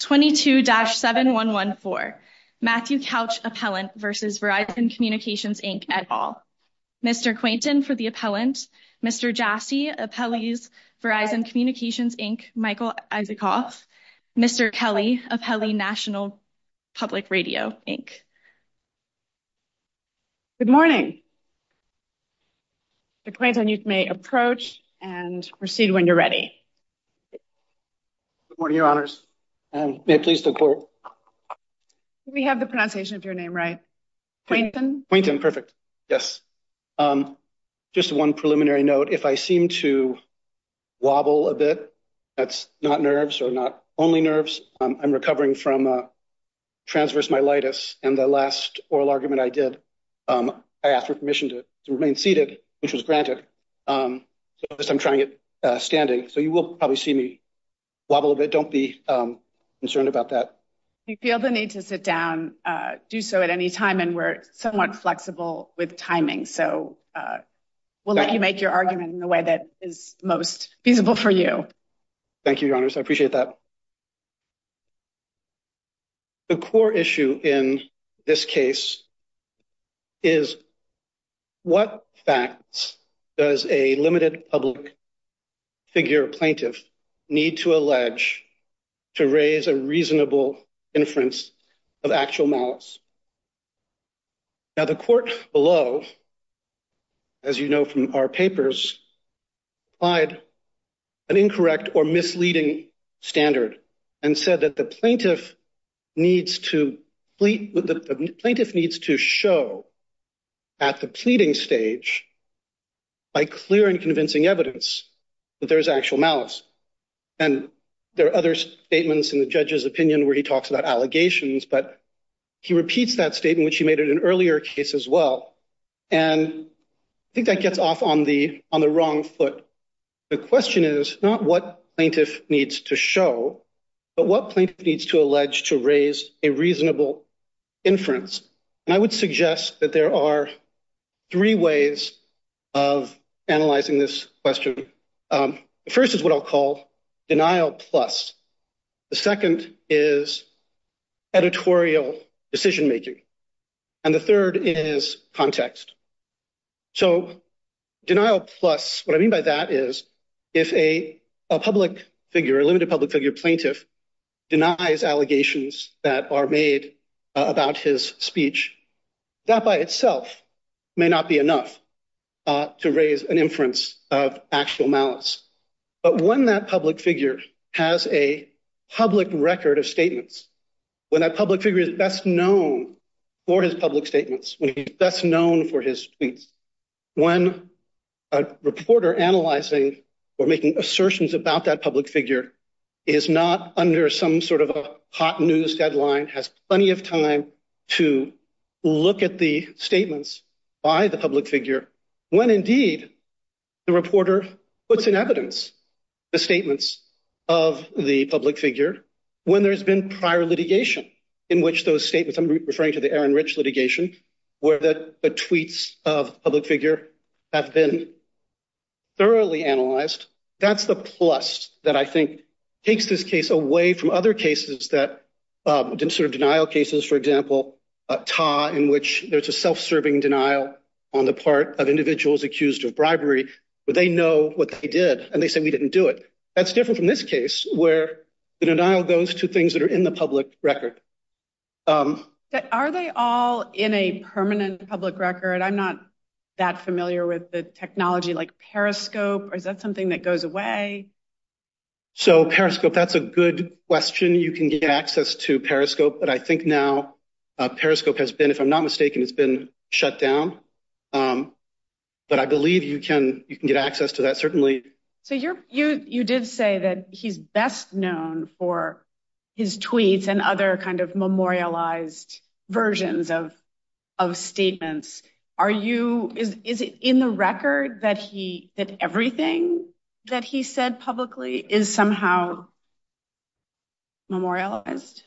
22-7114 Matthew Couch Appellant v. Verizon Communications Inc. et al. Mr. Quainton for the Appellant. Mr. Jassy, Appellees, Verizon Communications Inc., Michael Isikoff. Mr. Kelly, Appellee National Public Radio, Inc. Good morning. Mr. Quainton, you may approach and proceed when you're ready. Good morning, Your Honors. May I please look forward? Do we have the pronunciation of your name right? Quainton? Quainton. Perfect. Yes. Just one preliminary note. If I seem to wobble a bit, that's not nerves or not only nerves. I'm recovering from transverse myelitis. And the last oral argument I did, I asked for permission to remain seated, which was granted. I'm trying it standing, so you will probably see me wobble a bit. Don't be concerned about that. You feel the need to sit down, do so at any time. And we're somewhat flexible with timing. So we'll let you make your argument in the way that is most feasible for you. Thank you, Your Honors. I appreciate that. The core issue in this case is what facts does a limited public figure plaintiff need to allege to raise a reasonable inference of actual malice? Now, the court below, as you know from our papers, applied an incorrect or misleading standard and said that the plaintiff needs to show at the pleading stage by clear and convincing evidence that there is actual malice. And there are other statements in the judge's opinion where he talks about allegations, but he repeats that statement, which he made in an earlier case as well. And I think that gets off on the wrong foot. The question is not what plaintiff needs to show, but what plaintiff needs to allege to raise a reasonable inference. And I would suggest that there are three ways of analyzing this question. First is what I'll call denial plus. The second is editorial decision making. And the third is context. So denial plus, what I mean by that is if a public figure, a limited public figure plaintiff denies allegations that are made about his speech, that by itself may not be enough to raise an inference of actual malice. But when that public figure has a public record of statements, when that public figure is best known for his public statements, when he's best known for his tweets, when a reporter analyzing or making assertions about that public figure is not under some sort of a hot news deadline, has plenty of time to look at the statements by the public figure. When indeed the reporter puts in evidence the statements of the public figure, when there's been prior litigation in which those statements, I'm referring to the Aaron Rich litigation, where the tweets of public figure have been thoroughly analyzed. That's the plus that I think takes this case away from other cases that didn't sort of denial cases, for example, a tie in which there's a self-serving denial on the part of individuals accused of bribery, but they know what they did. And they said, we didn't do it. That's different from this case where the denial goes to things that are in the public record. Are they all in a permanent public record? I'm not that familiar with the technology like Periscope. Is that something that goes away? So Periscope, that's a good question. You can get access to Periscope. But I think now Periscope has been, if I'm not mistaken, it's been shut down. But I believe you can you can get access to that. So you did say that he's best known for his tweets and other kind of memorialized versions of statements. Are you is it in the record that he that everything that he said publicly is somehow memorialized?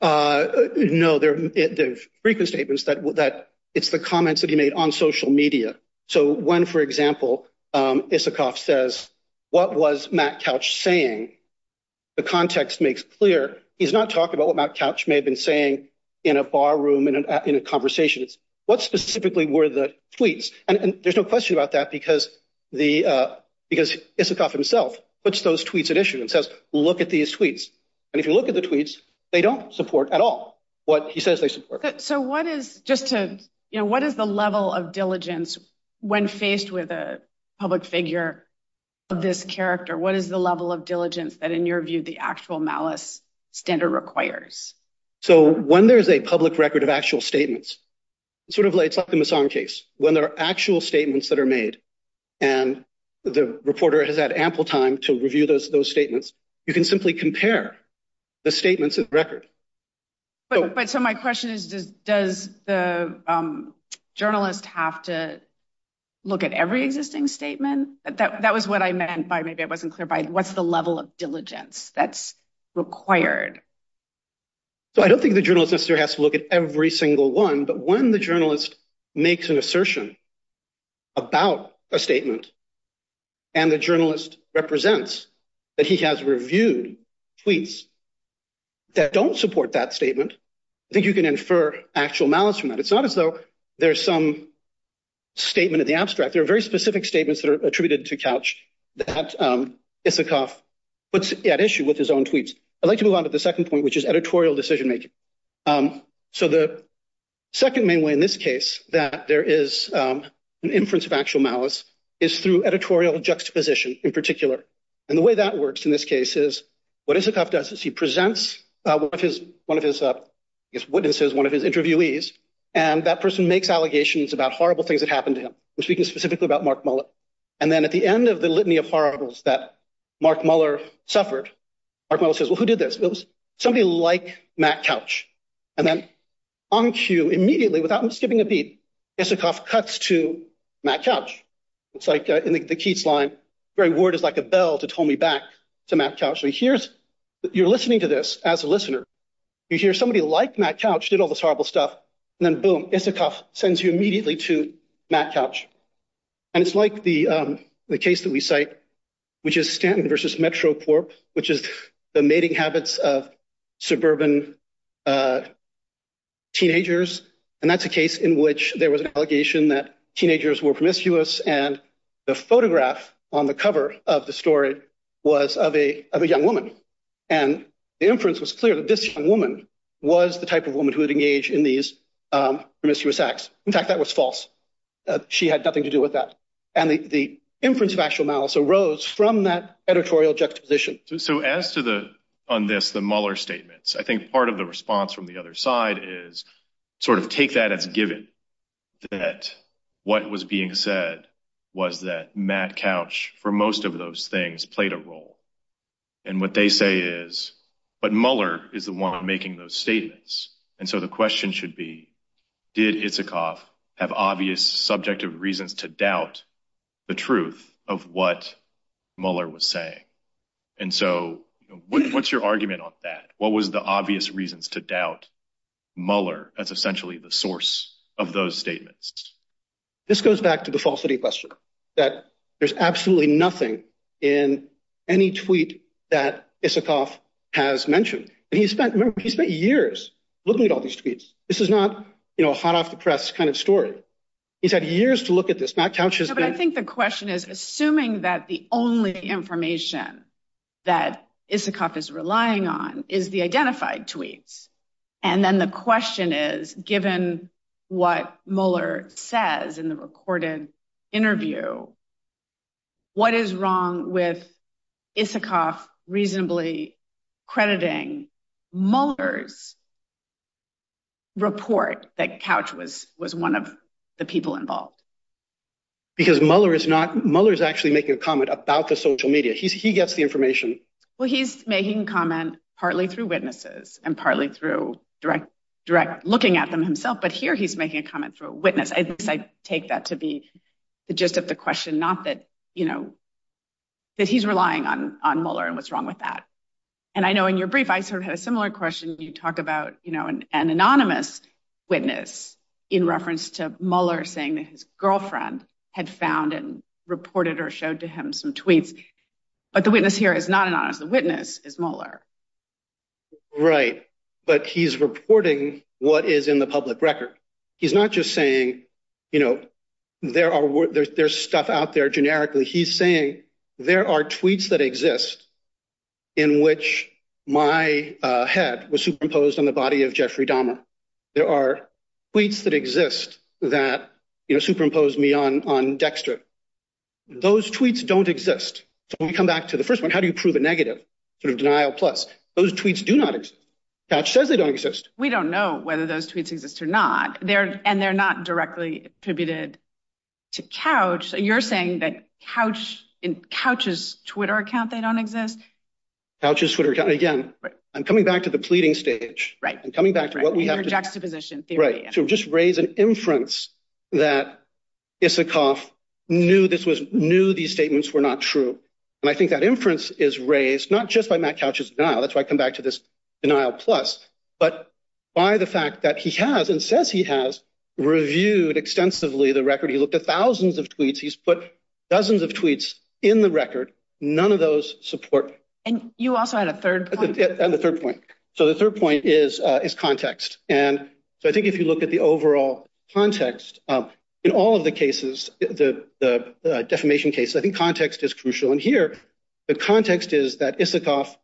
No, there are frequent statements that that it's the comments that he made on social media. So when, for example, Isikoff says, what was Matt Couch saying? The context makes clear he's not talking about what Matt Couch may have been saying in a bar room and in a conversation. It's what specifically were the tweets? And there's no question about that because the because Isikoff himself puts those tweets in issue and says, look at these tweets. And if you look at the tweets, they don't support at all what he says they support. So what is just to you know, what is the level of diligence when faced with a public figure of this character? What is the level of diligence that in your view, the actual malice standard requires? So when there is a public record of actual statements, it's sort of like it's like the Missong case when there are actual statements that are made. And the reporter has had ample time to review those those statements. You can simply compare the statements of the record. But so my question is, does the journalist have to look at every existing statement? That was what I meant by maybe I wasn't clear by what's the level of diligence that's required? So I don't think the journalist has to look at every single one. But when the journalist makes an assertion. About a statement. And the journalist represents that he has reviewed tweets. That don't support that statement. I think you can infer actual malice from that. It's not as though there's some statement of the abstract. There are very specific statements that are attributed to couch that it's a cough. What's at issue with his own tweets? I'd like to move on to the second point, which is editorial decision making. So the second main way in this case that there is an inference of actual malice is through editorial juxtaposition in particular. And the way that works in this case is what is a cough does is he presents one of his witnesses, one of his interviewees. And that person makes allegations about horrible things that happened to him. We're speaking specifically about Mark Muller. And then at the end of the litany of horribles that Mark Muller suffered. Mark Muller says, well, who did this? It was somebody like Matt Couch. And then on cue immediately without skipping a beat. Isikoff cuts to Matt Couch. It's like in the Keats line. Very word is like a bell to told me back to Matt Couch. So here's you're listening to this as a listener. You hear somebody like Matt Couch did all this horrible stuff. And then, boom, Isikoff sends you immediately to Matt Couch. And it's like the case that we cite, which is Stanton versus Metroport, which is the mating habits of suburban teenagers. And that's a case in which there was an allegation that teenagers were promiscuous. And the photograph on the cover of the story was of a young woman. And the inference was clear that this woman was the type of woman who would engage in these promiscuous acts. In fact, that was false. She had nothing to do with that. And the inference of actual malice arose from that editorial juxtaposition. So as to the on this, the Mueller statements, I think part of the response from the other side is sort of take that as a given. That what was being said was that Matt Couch, for most of those things, played a role. And what they say is, but Mueller is the one making those statements. And so the question should be, did Isikoff have obvious subjective reasons to doubt the truth of what Mueller was saying? And so what's your argument on that? What was the obvious reasons to doubt Mueller as essentially the source of those statements? This goes back to the falsity question that there's absolutely nothing in any tweet that Isikoff has mentioned. And he spent years looking at all these tweets. This is not a hot off the press kind of story. He's had years to look at this. Matt Couch has been. But I think the question is, assuming that the only information that Isikoff is relying on is the identified tweets. And then the question is, given what Mueller says in the recorded interview. What is wrong with Isikoff reasonably crediting Mueller's report that Couch was was one of the people involved? Because Mueller is not. Mueller is actually making a comment about the social media. He gets the information. Well, he's making comment partly through witnesses and partly through direct direct looking at them himself. But here he's making a comment for a witness. I take that to be the gist of the question. Not that, you know, that he's relying on on Mueller and what's wrong with that. And I know in your brief, I sort of had a similar question. You talk about, you know, an anonymous witness in reference to Mueller saying that his girlfriend had found and reported or showed to him some tweets. But the witness here is not anonymous. The witness is Mueller. Right. But he's reporting what is in the public record. He's not just saying, you know, there are there's stuff out there generically. He's saying there are tweets that exist in which my head was superimposed on the body of Jeffrey Dahmer. There are tweets that exist that, you know, superimpose me on on Dexter. Those tweets don't exist. So when we come back to the first one, how do you prove a negative sort of denial? Plus, those tweets do not exist. Couch says they don't exist. We don't know whether those tweets exist or not. They're and they're not directly attributed to Couch. You're saying that Couch and Couch's Twitter account, they don't exist. Couch's Twitter account. Again, I'm coming back to the pleading stage. Right. I'm coming back to what we have in our juxtaposition. Right. To just raise an inference that Isikoff knew this was knew these statements were not true. And I think that inference is raised not just by Matt Couch's denial. That's why I come back to this denial. Plus, but by the fact that he has and says he has reviewed extensively the record, he looked at thousands of tweets. He's put dozens of tweets in the record. None of those support. And you also had a third and the third point. So the third point is, is context. And so I think if you look at the overall context in all of the cases, the defamation case, I think context is crucial. And here the context is that Isikoff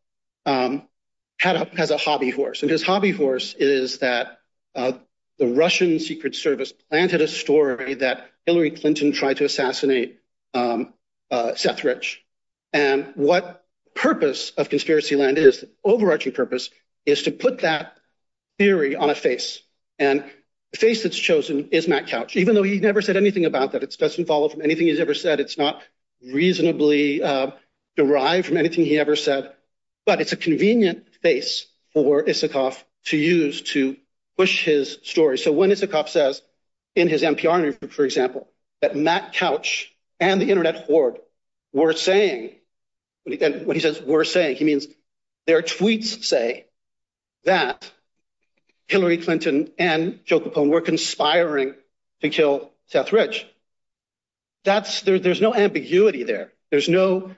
has a hobby horse. And his hobby horse is that the Russian Secret Service planted a story that Hillary Clinton tried to assassinate Seth Rich. And what purpose of conspiracy land is overarching purpose is to put that theory on a face. And the face that's chosen is Matt Couch, even though he never said anything about that. It doesn't follow from anything he's ever said. It's not reasonably derived from anything he ever said. But it's a convenient face for Isikoff to use to push his story. So when Isikoff says in his NPR interview, for example, that Matt Couch and the Internet Horde were saying what he says were saying, he means their tweets say that Hillary Clinton and Joe Capone were conspiring to kill Seth Rich. That's there. There's no ambiguity there. There's no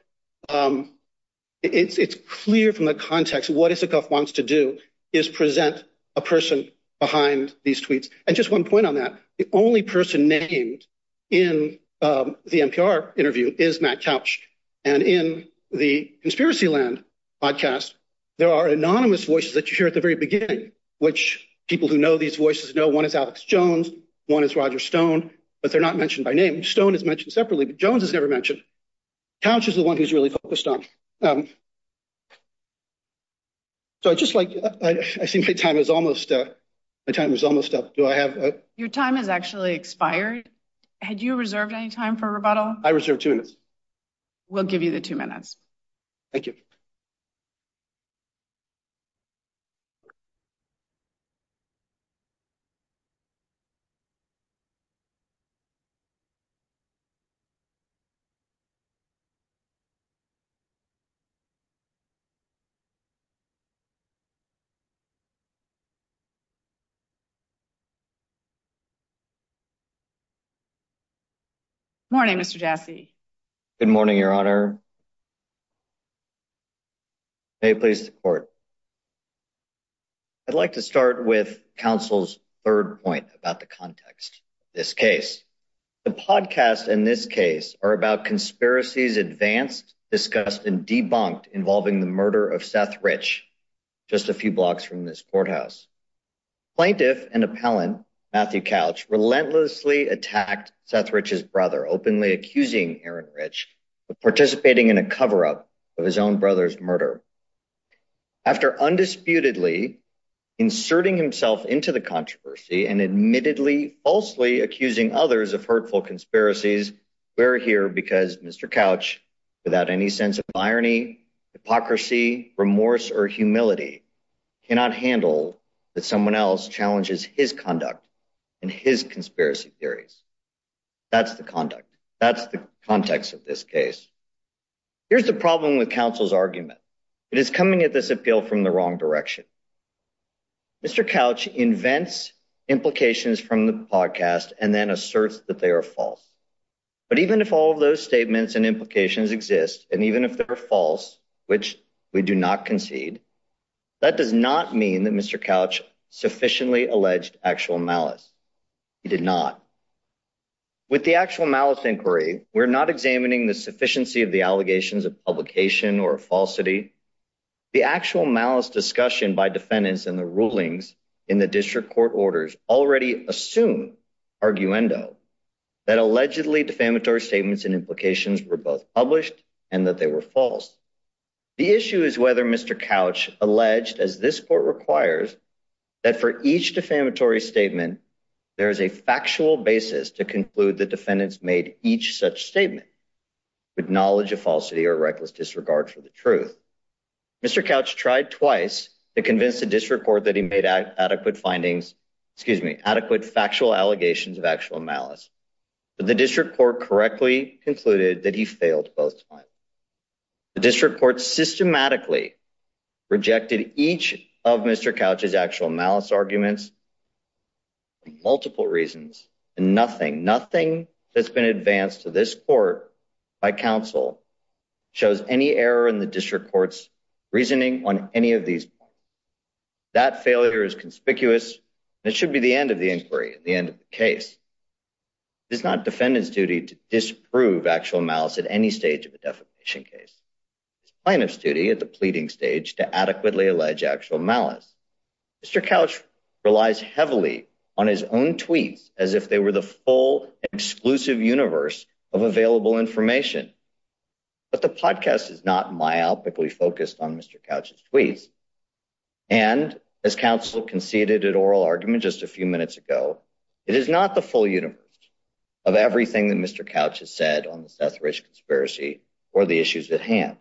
it's clear from the context. What Isikoff wants to do is present a person behind these tweets. And just one point on that. The only person named in the NPR interview is Matt Couch. And in the conspiracy land podcast, there are anonymous voices that you hear at the very beginning, which people who know these voices know one is Alex Jones, one is Roger Stone, but they're not mentioned by name. Stone is mentioned separately, but Jones is never mentioned. Couch is the one who's really focused on. So I just like I see my time is almost up. Your time has actually expired. Had you reserved any time for rebuttal? We'll give you the two minutes. Thank you. Morning, Mr. Jassy. Good morning, Your Honor. May it please the court. I'd like to start with counsel's third point about the context. This case, the podcast in this case are about conspiracies advanced, discussed and debunked involving the murder of Seth Rich. Just a few blocks from this courthouse. Plaintiff and appellant Matthew Couch relentlessly attacked Seth Rich's brother, openly accusing Aaron Rich of participating in a cover up of his own brother's murder. After undisputedly inserting himself into the controversy and admittedly falsely accusing others of hurtful conspiracies, we're here because Mr. Couch, without any sense of irony, hypocrisy, remorse or humility, cannot handle that someone else challenges his conduct and his conspiracy theories. That's the conduct. That's the context of this case. Here's the problem with counsel's argument. It is coming at this appeal from the wrong direction. Mr. Couch invents implications from the podcast and then asserts that they are false. But even if all of those statements and implications exist, and even if they're false, which we do not concede, that does not mean that Mr. Couch sufficiently alleged actual malice. He did not. With the actual malice inquiry, we're not examining the sufficiency of the allegations of publication or falsity. The actual malice discussion by defendants and the rulings in the district court orders already assume that allegedly defamatory statements and implications were both published and that they were false. The issue is whether Mr. Couch alleged, as this court requires, that for each defamatory statement, there is a factual basis to conclude the defendants made each such statement with knowledge of falsity or reckless disregard for the truth. Mr. Couch tried twice to convince the district court that he made adequate findings, excuse me, adequate factual allegations of actual malice. But the district court correctly concluded that he failed both times. The district court systematically rejected each of Mr. Couch's actual malice arguments for multiple reasons. Nothing, nothing that's been advanced to this court by counsel shows any error in the district court's reasoning on any of these. That failure is conspicuous. It should be the end of the inquiry at the end of the case. It's not defendants duty to disprove actual malice at any stage of the defamation case. It's plaintiff's duty at the pleading stage to adequately allege actual malice. Mr. Couch relies heavily on his own tweets as if they were the full, exclusive universe of available information. But the podcast is not myopically focused on Mr. Couch's tweets. And as counsel conceded at oral argument just a few minutes ago, it is not the full universe of everything that Mr. Couch has said on the Seth Rich conspiracy or the issues at hand.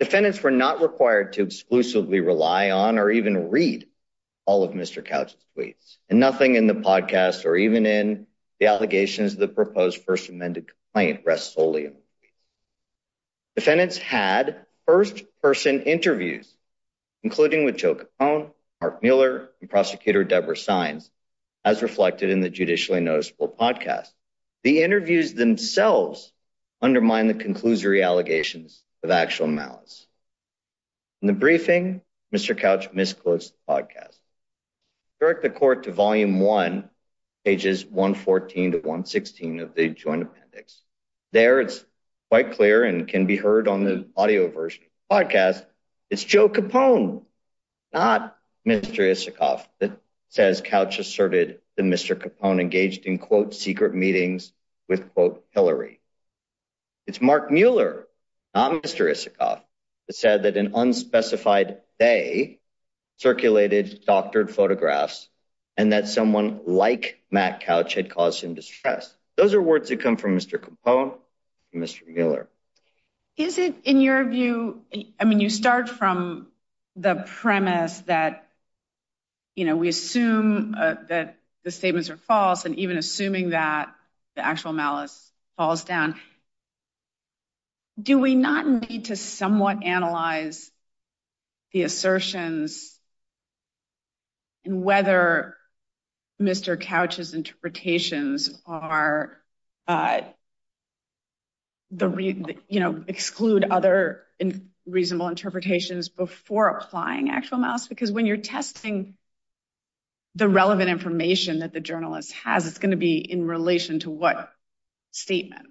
Defendants were not required to exclusively rely on or even read all of Mr. Couch's tweets. And nothing in the podcast or even in the allegations that proposed first amended complaint rests solely on the tweets. Defendants had first-person interviews, including with Joe Capone, Mark Miller, and Prosecutor Deborah Sines, as reflected in the judicially noticeable podcast. The interviews themselves undermine the conclusory allegations of actual malice. In the briefing, Mr. Couch misclosed the podcast. Direct the court to volume one, pages 114 to 116 of the joint appendix. There, it's quite clear and can be heard on the audio version of the podcast, it's Joe Capone, not Mr. Isikoff, that says Couch asserted that Mr. Capone engaged in, quote, secret meetings with, quote, Hillary. It's Mark Miller, not Mr. Isikoff, that said that an unspecified day circulated doctored photographs and that someone like Matt Couch had caused him distress. Those are words that come from Mr. Capone and Mr. Miller. Is it, in your view, I mean, you start from the premise that, you know, we assume that the statements are false and even assuming that the actual malice falls down. Do we not need to somewhat analyze the assertions and whether Mr. Couch's interpretations are, you know, exclude other reasonable interpretations before applying actual malice? Because when you're testing the relevant information that the journalist has, it's going to be in relation to what statement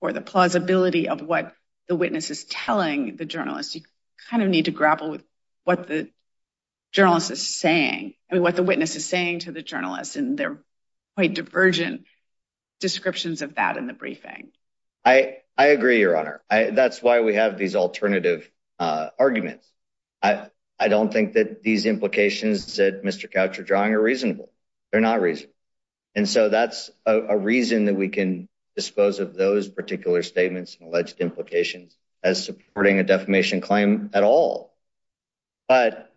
or the plausibility of what the witness is telling the journalist. You kind of need to grapple with what the journalist is saying and what the witness is saying to the journalist. And they're quite divergent descriptions of that in the briefing. I agree, Your Honor. That's why we have these alternative arguments. I don't think that these implications that Mr. Couch are drawing are reasonable. They're not reasonable. And so that's a reason that we can dispose of those particular statements and alleged implications as supporting a defamation claim at all. But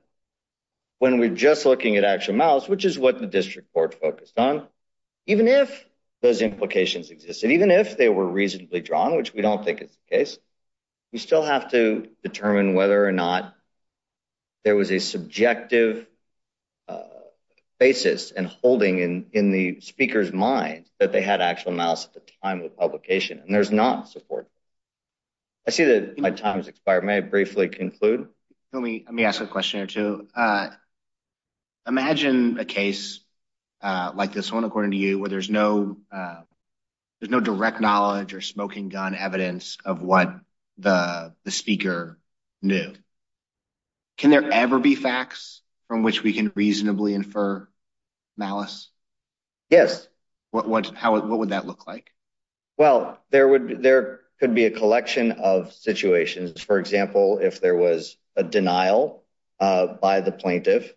when we're just looking at actual malice, which is what the district court focused on, even if those implications existed, even if they were reasonably drawn, which we don't think is the case, we still have to determine whether or not there was a subjective basis and holding in the speaker's mind that they had actual malice at the time of the publication. And there's not support. I see that my time has expired. May I briefly conclude? Let me ask a question or two. Imagine a case like this one, according to you, where there's no direct knowledge or smoking gun evidence of what the speaker knew. Can there ever be facts from which we can reasonably infer malice? Yes. What would that look like? Well, there could be a collection of situations. For example, if there was a denial by the plaintiff,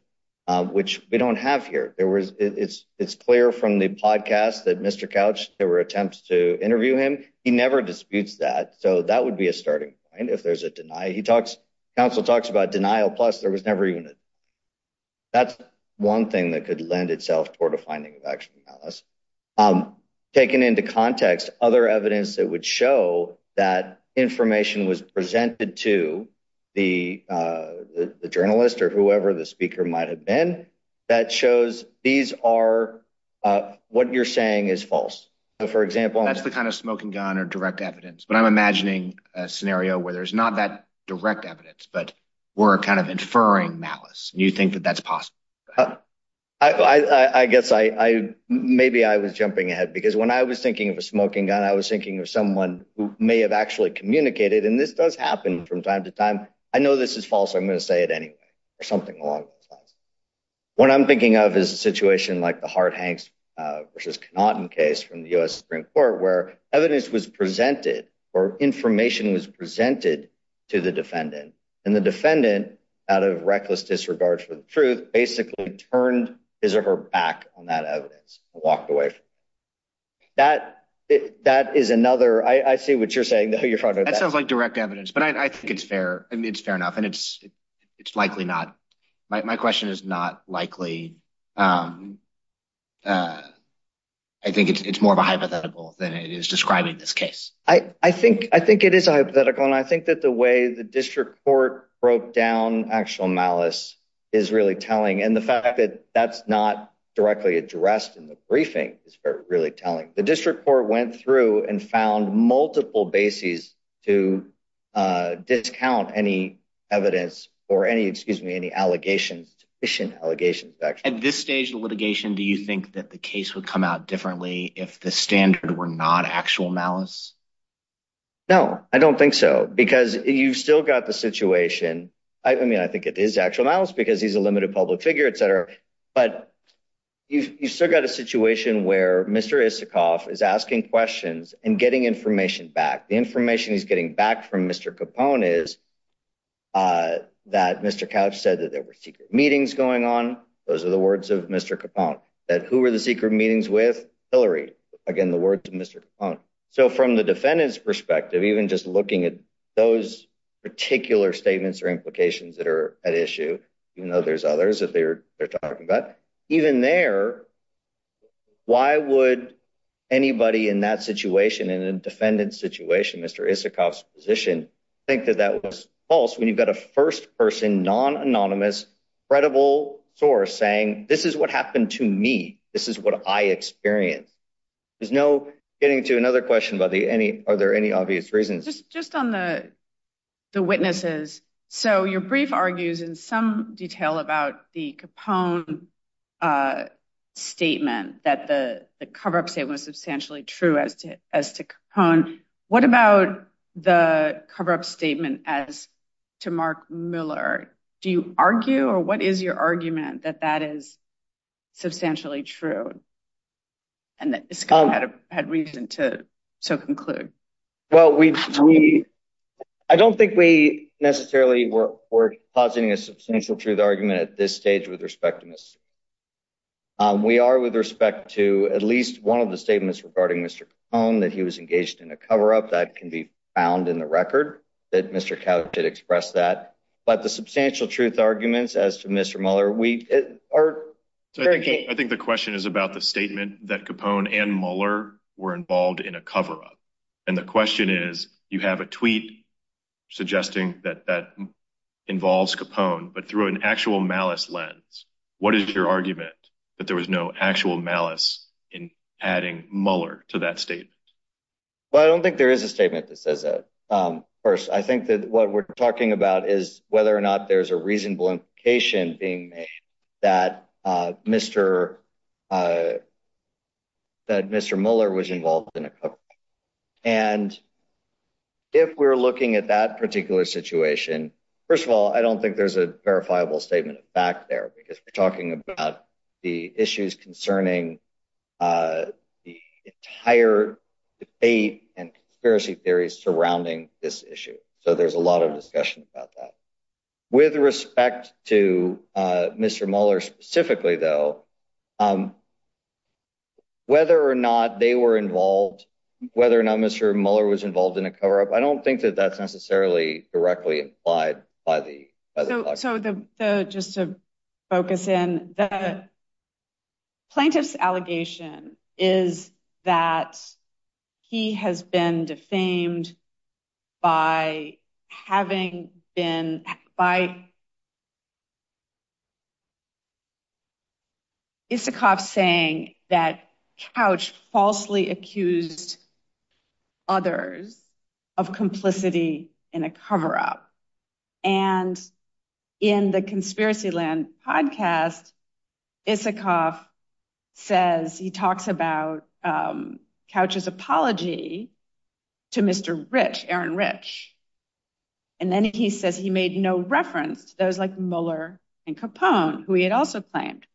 which we don't have here, it's clear from the podcast that Mr. Couch, there were attempts to interview him. He never disputes that. So that would be a starting point if there's a denial. He talks, counsel talks about denial. Plus, there was never even. That's one thing that could lend itself toward a finding of actual malice. Taken into context, other evidence that would show that information was presented to the journalist or whoever the speaker might have been that shows these are what you're saying is false. So, for example. That's the kind of smoking gun or direct evidence. But I'm imagining a scenario where there's not that direct evidence, but we're kind of inferring malice. You think that that's possible? I guess I maybe I was jumping ahead because when I was thinking of a smoking gun, I was thinking of someone who may have actually communicated. And this does happen from time to time. I know this is false. I'm going to say it anyway or something along those lines. What I'm thinking of is a situation like the Hart Hanks versus Connaughton case from the U.S. Supreme Court where evidence was presented or information was presented to the defendant. And the defendant, out of reckless disregard for the truth, basically turned his or her back on that evidence, walked away. That that is another I see what you're saying. That sounds like direct evidence, but I think it's fair. It's fair enough. And it's it's likely not. My question is not likely. I think it's more of a hypothetical than it is describing this case. I think I think it is a hypothetical. And I think that the way the district court broke down actual malice is really telling. And the fact that that's not directly addressed in the briefing is really telling. The district court went through and found multiple bases to discount any evidence or any excuse me, any allegations, deficient allegations. At this stage of litigation, do you think that the case would come out differently if the standard were not actual malice? No, I don't think so, because you've still got the situation. I mean, I think it is actual malice because he's a limited public figure, etc. But you've still got a situation where Mr. Isikoff is asking questions and getting information back. The information he's getting back from Mr. Capone is that Mr. Couch said that there were secret meetings going on. Those are the words of Mr. Capone that who were the secret meetings with Hillary? Again, the words of Mr. Capone. So from the defendant's perspective, even just looking at those particular statements or implications that are at issue, you know, there's others that they're talking about. But even there, why would anybody in that situation in a defendant's situation, Mr. Isikoff's position, think that that was false when you've got a first person, non-anonymous, credible source saying this is what happened to me? This is what I experienced. There's no getting to another question about the any. Are there any obvious reasons? Just on the the witnesses. So your brief argues in some detail about the Capone statement that the cover-up statement was substantially true as to as to Capone. What about the cover-up statement as to Mark Miller? Do you argue or what is your argument that that is substantially true? And that Isikoff had reason to so conclude. Well, we I don't think we necessarily were positing a substantial truth argument at this stage with respect to this. We are with respect to at least one of the statements regarding Mr. That he was engaged in a cover-up that can be found in the record that Mr. But the substantial truth arguments as to Mr. Muller, we are. I think the question is about the statement that Capone and Muller were involved in a cover-up. And the question is, you have a tweet suggesting that that involves Capone, but through an actual malice lens. What is your argument that there was no actual malice in adding Muller to that state? But I don't think there is a statement that says that. First, I think that what we're talking about is whether or not there's a reasonable implication being made that Mr. That Mr. Muller was involved in a cover-up. And. If we're looking at that particular situation, first of all, I don't think there's a verifiable statement of fact there because we're talking about the issues concerning. The entire debate and conspiracy theories surrounding this issue. So there's a lot of discussion about that. With respect to Mr. Muller specifically, though, whether or not they were involved, whether or not Mr. Muller was involved in a cover-up. I don't think that that's necessarily directly implied by the. So just to focus in the. Plaintiff's allegation is that he has been defamed by having been by. Isikoff saying that Couch falsely accused. Others of complicity in a cover-up and in the Conspiracyland podcast, Isikoff says he talks about Couch's apology to Mr. Rich, Aaron Rich. And then he says he made no reference. Those like Muller and Capone, who he had also claimed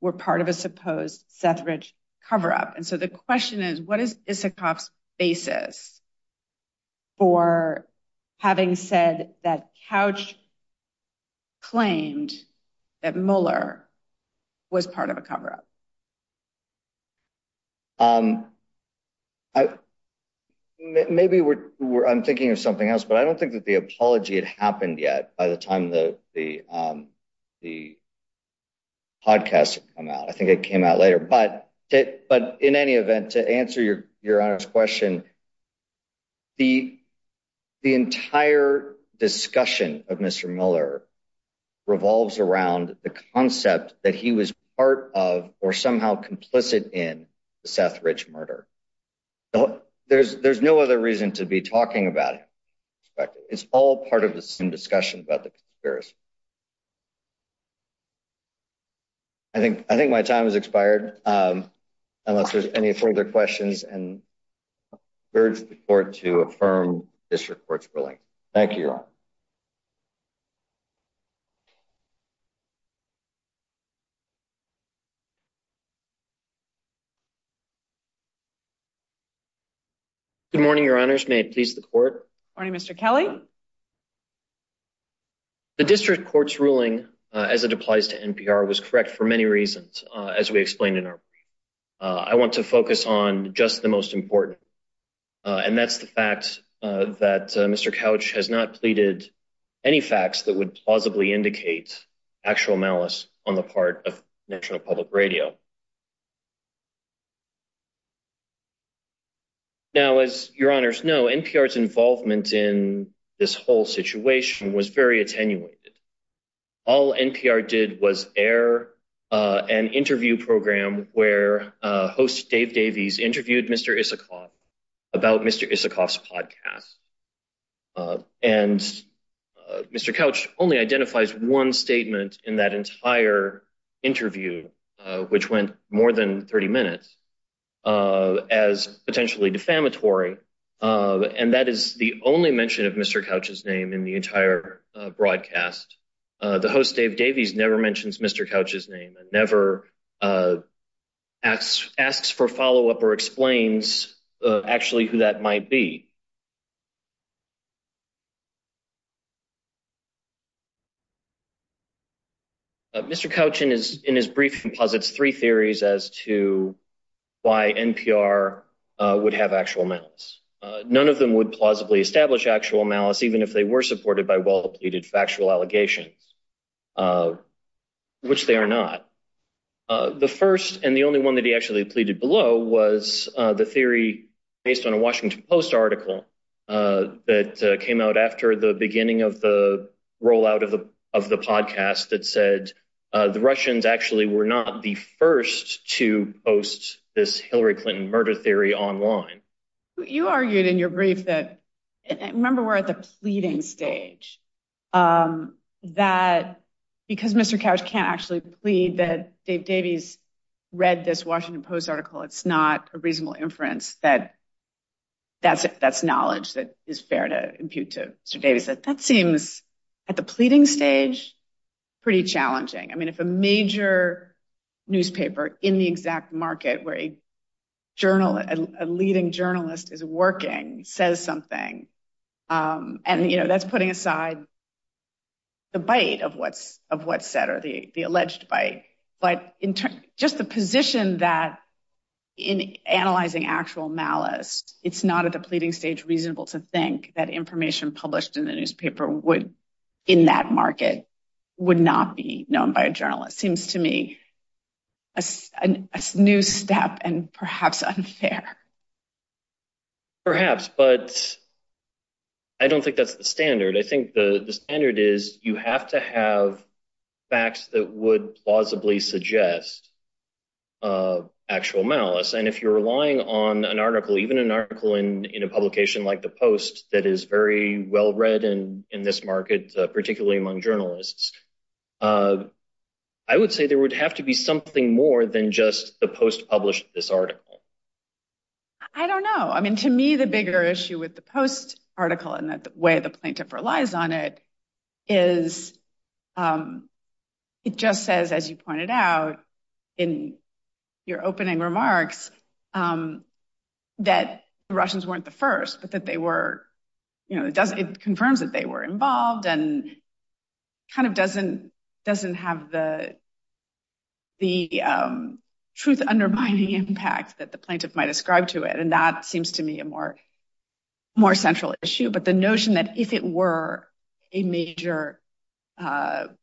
were part of a supposed coverage cover-up. And so the question is, what is Isikoff's basis for having said that Couch claimed that Muller was part of a cover-up? I maybe I'm thinking of something else, but I don't think that the apology had happened yet by the time the the. The podcast, I think it came out later, but it but in any event, to answer your question. The the entire discussion of Mr. Muller revolves around the concept that he was part of or somehow complicit in the Seth Rich murder. So there's there's no other reason to be talking about it. It's all part of the same discussion about the conspiracy. I think I think my time has expired unless there's any further questions and urge the court to affirm this report's ruling. Thank you. Good morning, your honors. May it please the court. Morning, Mr. Kelly. The district court's ruling as it applies to NPR was correct for many reasons, as we explained in our I want to focus on just the most important. And that's the fact that Mr. Couch has not pleaded any facts that would plausibly indicate actual malice on the part of National Public Radio. Now, as your honors know, NPR's involvement in this whole situation was very attenuated. All NPR did was air an interview program where host Dave Davies interviewed Mr. Isikoff about Mr. Isikoff's podcast and Mr. Couch only identifies one statement in that entire interview, which went more than 30 minutes as potentially defamatory. And that is the only mention of Mr. Couch's name in the entire broadcast. The host Dave Davies never mentions Mr. Couch's name and never asks for follow up or explains actually who that might be. Mr. Couch in his brief composites three theories as to why NPR would have actual malice. None of them would plausibly establish actual malice, even if they were supported by well-pleaded factual allegations, which they are not. The first and the only one that he actually pleaded below was the theory based on a Washington Post article that came out after the beginning of the rollout of the of the podcast that said the Russians actually were not the first to post this Hillary Clinton murder theory online. You argued in your brief that remember we're at the pleading stage that because Mr. Couch can't actually plead that Dave Davies read this Washington Post article. It's not a reasonable inference that. That's that's knowledge that is fair to impute to Mr. Davies that that seems at the pleading stage pretty challenging. I mean, if a major newspaper in the exact market where a journalist, a leading journalist is working, says something and, you know, that's putting aside. The bite of what's of what set or the alleged bite, but in just the position that in analyzing actual malice, it's not at the pleading stage reasonable to think that information published in the newspaper would in that market would not be known by a journalist seems to me. A new step and perhaps unfair. Perhaps, but. I don't think that's the standard. I think the standard is you have to have facts that would plausibly suggest actual malice. And if you're relying on an article, even an article in a publication like The Post that is very well read and in this market, particularly among journalists. I would say there would have to be something more than just the post published this article. I don't know. I mean, to me, the bigger issue with The Post article and the way the plaintiff relies on it is it just says, as you pointed out in your opening remarks, that the Russians weren't the first, but that they were. It confirms that they were involved and kind of doesn't doesn't have the. The truth undermining impact that the plaintiff might ascribe to it, and that seems to me a more. More central issue, but the notion that if it were a major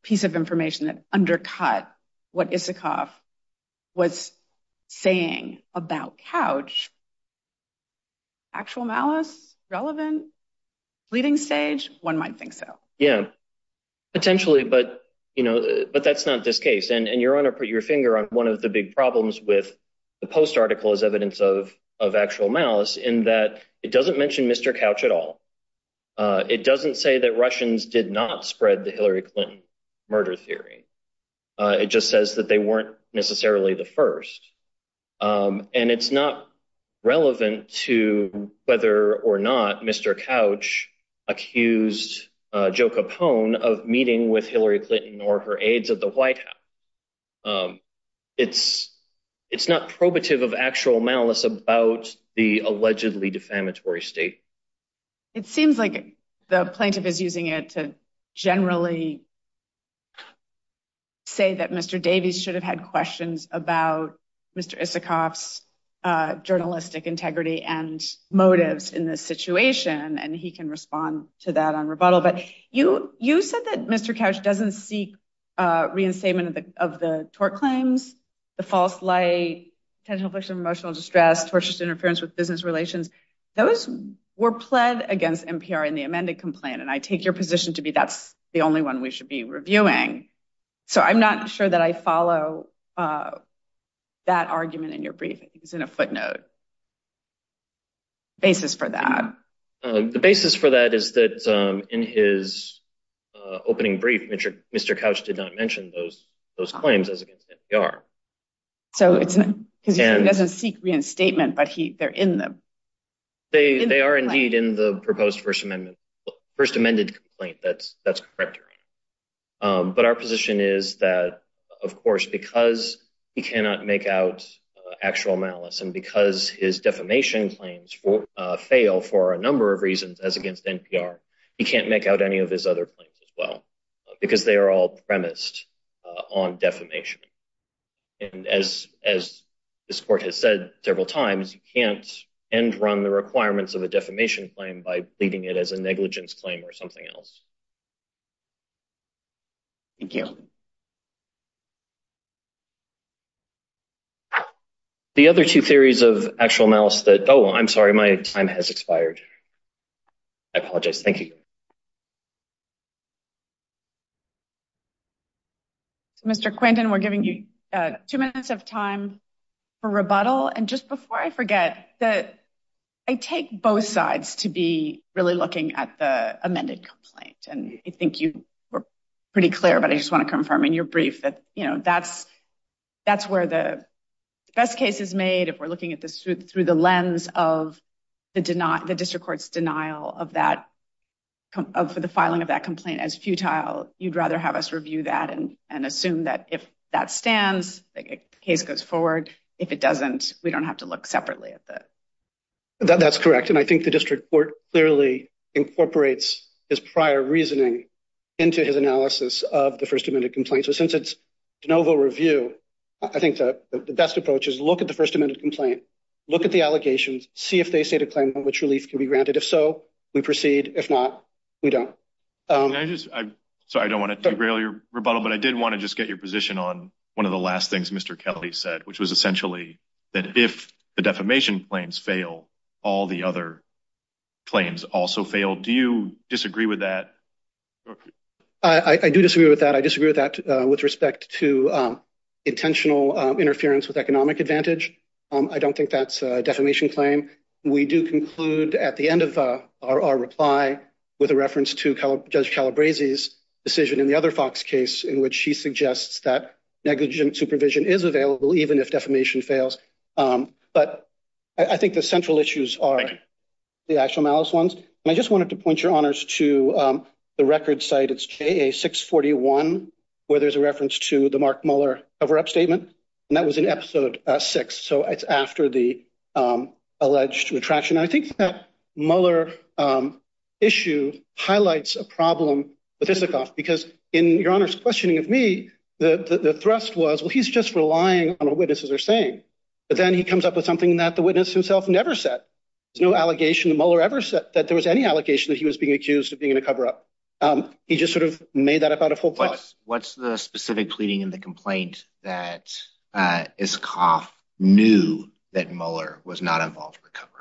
piece of information that undercut what Isikoff was saying about couch. Actual malice relevant leading stage, one might think so. Yeah, potentially. But that's not this case. And you're going to put your finger on one of the big problems with The Post article is evidence of of actual malice in that it doesn't mention Mr. Couch at all. It doesn't say that Russians did not spread the Hillary Clinton murder theory. It just says that they weren't necessarily the first. And it's not relevant to whether or not Mr. Couch accused Joe Capone of meeting with Hillary Clinton or her aides at the White House. It's it's not probative of actual malice about the allegedly defamatory state. It seems like the plaintiff is using it to generally say that Mr. Davies should have had questions about Mr. Isikoff's journalistic integrity and motives in this situation. And he can respond to that on rebuttal. But you you said that Mr. Couch doesn't seek reinstatement of the of the tort claims. The false light, potential emotional distress, tortious interference with business relations. Those were pled against NPR in the amended complaint. And I take your position to be that's the only one we should be reviewing. So I'm not sure that I follow that argument in your briefings in a footnote. Basis for that, the basis for that is that in his opening brief, Mr. Couch did not mention those those claims as against NPR. So it's because he doesn't seek reinstatement, but he they're in them. They are indeed in the proposed First Amendment. First amended complaint. That's that's correct. But our position is that, of course, because he cannot make out actual malice and because his defamation claims fail for a number of reasons as against NPR, he can't make out any of his other claims as well because they are all premised on defamation. And as as this court has said several times, you can't end run the requirements of a defamation claim by leaving it as a negligence claim or something else. Thank you. The other two theories of actual malice that, oh, I'm sorry, my time has expired. I apologize. Thank you. Mr. Quinton, we're giving you two minutes of time for rebuttal. And just before I forget that, I take both sides to be really looking at the amended complaint. And I think you were pretty clear, but I just want to confirm in your brief that, you know, that's that's where the best case is made. If we're looking at this through the lens of the district court's denial of that for the filing of that complaint as futile, you'd rather have us review that and assume that if that stands, the case goes forward. If it doesn't, we don't have to look separately at that. That's correct. And I think the district court clearly incorporates his prior reasoning into his analysis of the first amendment complaint. So since it's de novo review, I think the best approach is look at the first amendment complaint. Look at the allegations. See if they say to claim which relief can be granted. If so, we proceed. If not, we don't. So I don't want to derail your rebuttal, but I did want to just get your position on one of the last things Mr. Kelly said, which was essentially that if the defamation claims fail, all the other claims also fail. Do you disagree with that? I do disagree with that. I disagree with that with respect to intentional interference with economic advantage. I don't think that's a defamation claim. We do conclude at the end of our reply with a reference to Judge Calabrese's decision in the other Fox case in which she suggests that negligent supervision is available, even if defamation fails. But I think the central issues are the actual malice ones. And I just wanted to point your honors to the record site. It's a six forty one where there's a reference to the Mark Muller cover up statement. And that was in episode six. So it's after the alleged retraction. I think that Muller issue highlights a problem with Isikoff because in your honors questioning of me, the thrust was, well, he's just relying on what witnesses are saying. But then he comes up with something that the witness himself never said. No allegation, Muller ever said that there was any allegation that he was being accused of being in a cover up. He just sort of made that up out of hope. But what's the specific pleading in the complaint that Isikoff knew that Muller was not involved in the cover up?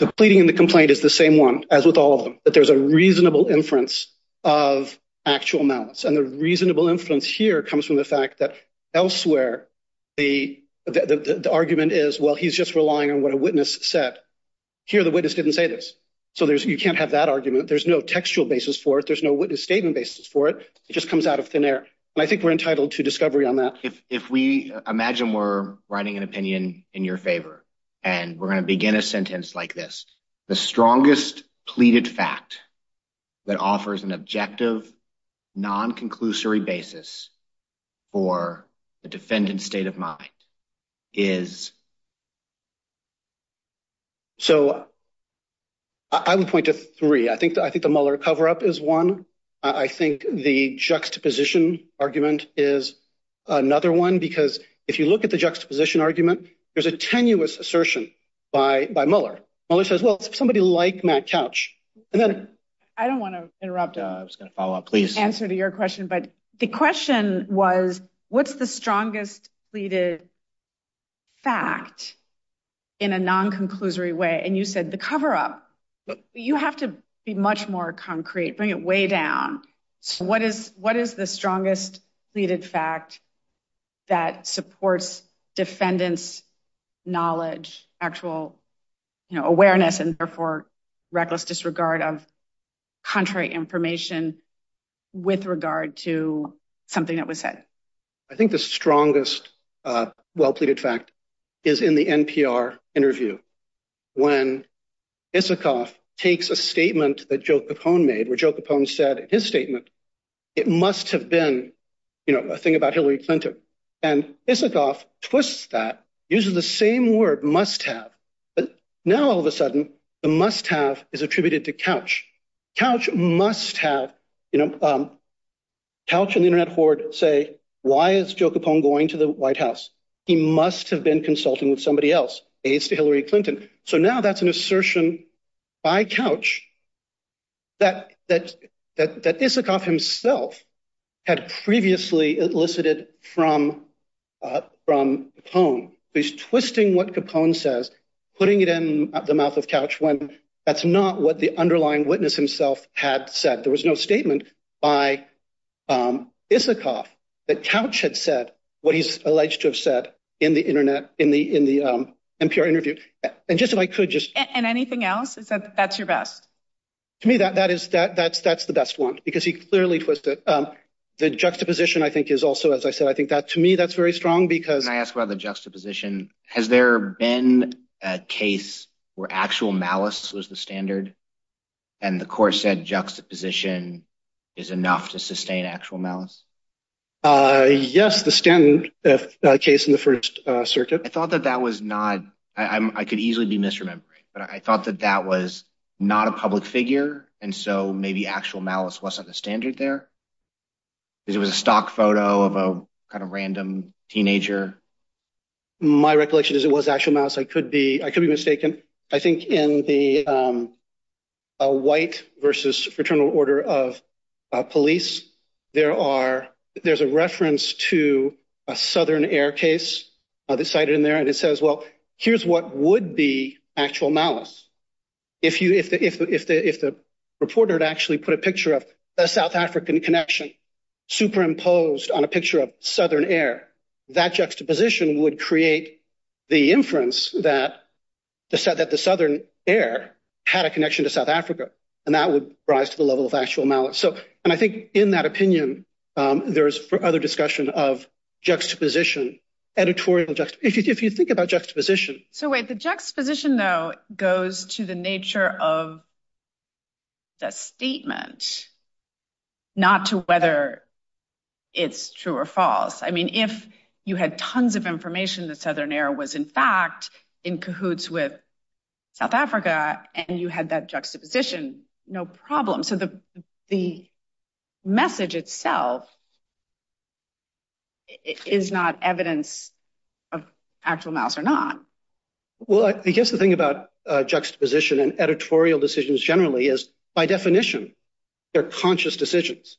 The pleading in the complaint is the same one as with all of them, that there's a reasonable inference of actual malice. And the reasonable inference here comes from the fact that elsewhere, the argument is, well, he's just relying on what a witness said here. The witness didn't say this. So there's you can't have that argument. There's no textual basis for it. There's no witness statement basis for it. It just comes out of thin air. And I think we're entitled to discovery on that. If we imagine we're writing an opinion in your favor and we're going to begin a sentence like this, the strongest pleaded fact that offers an objective, non-conclusory basis for the defendant's state of mind is. So. I would point to three, I think, I think the Muller cover up is one, I think the juxtaposition argument is another one, because if you look at the juxtaposition argument, there's a tenuous assertion by by Muller. Muller says, well, somebody like Matt Couch and then I don't want to interrupt. I was going to follow up, please answer to your question. But the question was, what's the strongest pleaded? Fact in a non-conclusory way, and you said the cover up, you have to be much more concrete, bring it way down. So what is what is the strongest pleaded fact that supports defendants knowledge, actual awareness and therefore reckless disregard of contrary information with regard to something that was said? I think the strongest well pleaded fact is in the NPR interview when Isikoff takes a statement that Joe Capone made, where Joe Capone said in his statement, it must have been a thing about Hillary Clinton. And Isikoff twists that, uses the same word must have. But now, all of a sudden, the must have is attributed to Couch. Couch must have, you know, Couch and the Internet horde say, why is Joe Capone going to the White House? He must have been consulting with somebody else, aides to Hillary Clinton. So now that's an assertion by Couch that Isikoff himself had previously elicited from Capone. He's twisting what Capone says, putting it in the mouth of Couch when that's not what the underlying witness himself had said. There was no statement by Isikoff that Couch had said what he's alleged to have said in the Internet, in the NPR interview. And just if I could just. And anything else? That's your best? To me, that is that that's that's the best one, because he clearly puts it. The juxtaposition, I think, is also, as I said, I think that to me that's very strong because I ask about the juxtaposition. Has there been a case where actual malice was the standard and the court said juxtaposition is enough to sustain actual malice? Yes, the standard case in the First Circuit. I thought that that was not I could easily be misremembering, but I thought that that was not a public figure. And so maybe actual malice wasn't the standard there. It was a stock photo of a kind of random teenager. My recollection is it was actual malice. I could be I could be mistaken, I think, in the white versus fraternal order of police. There are there's a reference to a Southern Air case cited in there. And it says, well, here's what would be actual malice. If you if the if the if the reporter had actually put a picture of a South African connection superimposed on a picture of Southern Air, that juxtaposition would create the inference that said that the Southern Air had a connection to South Africa and that would rise to the level of actual malice. So and I think in that opinion, there is other discussion of juxtaposition, editorial juxtaposition. If you think about juxtaposition. So wait, the juxtaposition, though, goes to the nature of the statement, not to whether it's true or false. I mean, if you had tons of information that Southern Air was, in fact, in cahoots with South Africa and you had that juxtaposition, no problem. So the the message itself is not evidence of actual malice or not. Well, I guess the thing about juxtaposition and editorial decisions generally is, by definition, they're conscious decisions.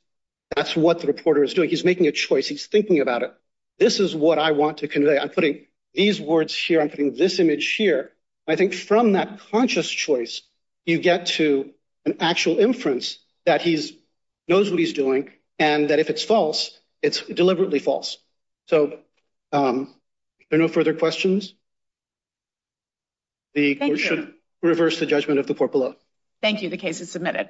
That's what the reporter is doing. He's making a choice. He's thinking about it. This is what I want to convey. I'm putting these words here. I'm putting this image here. I think from that conscious choice, you get to an actual inference that he knows what he's doing and that if it's false, it's deliberately false. So there are no further questions. The court should reverse the judgment of the court below. Thank you. The case is submitted.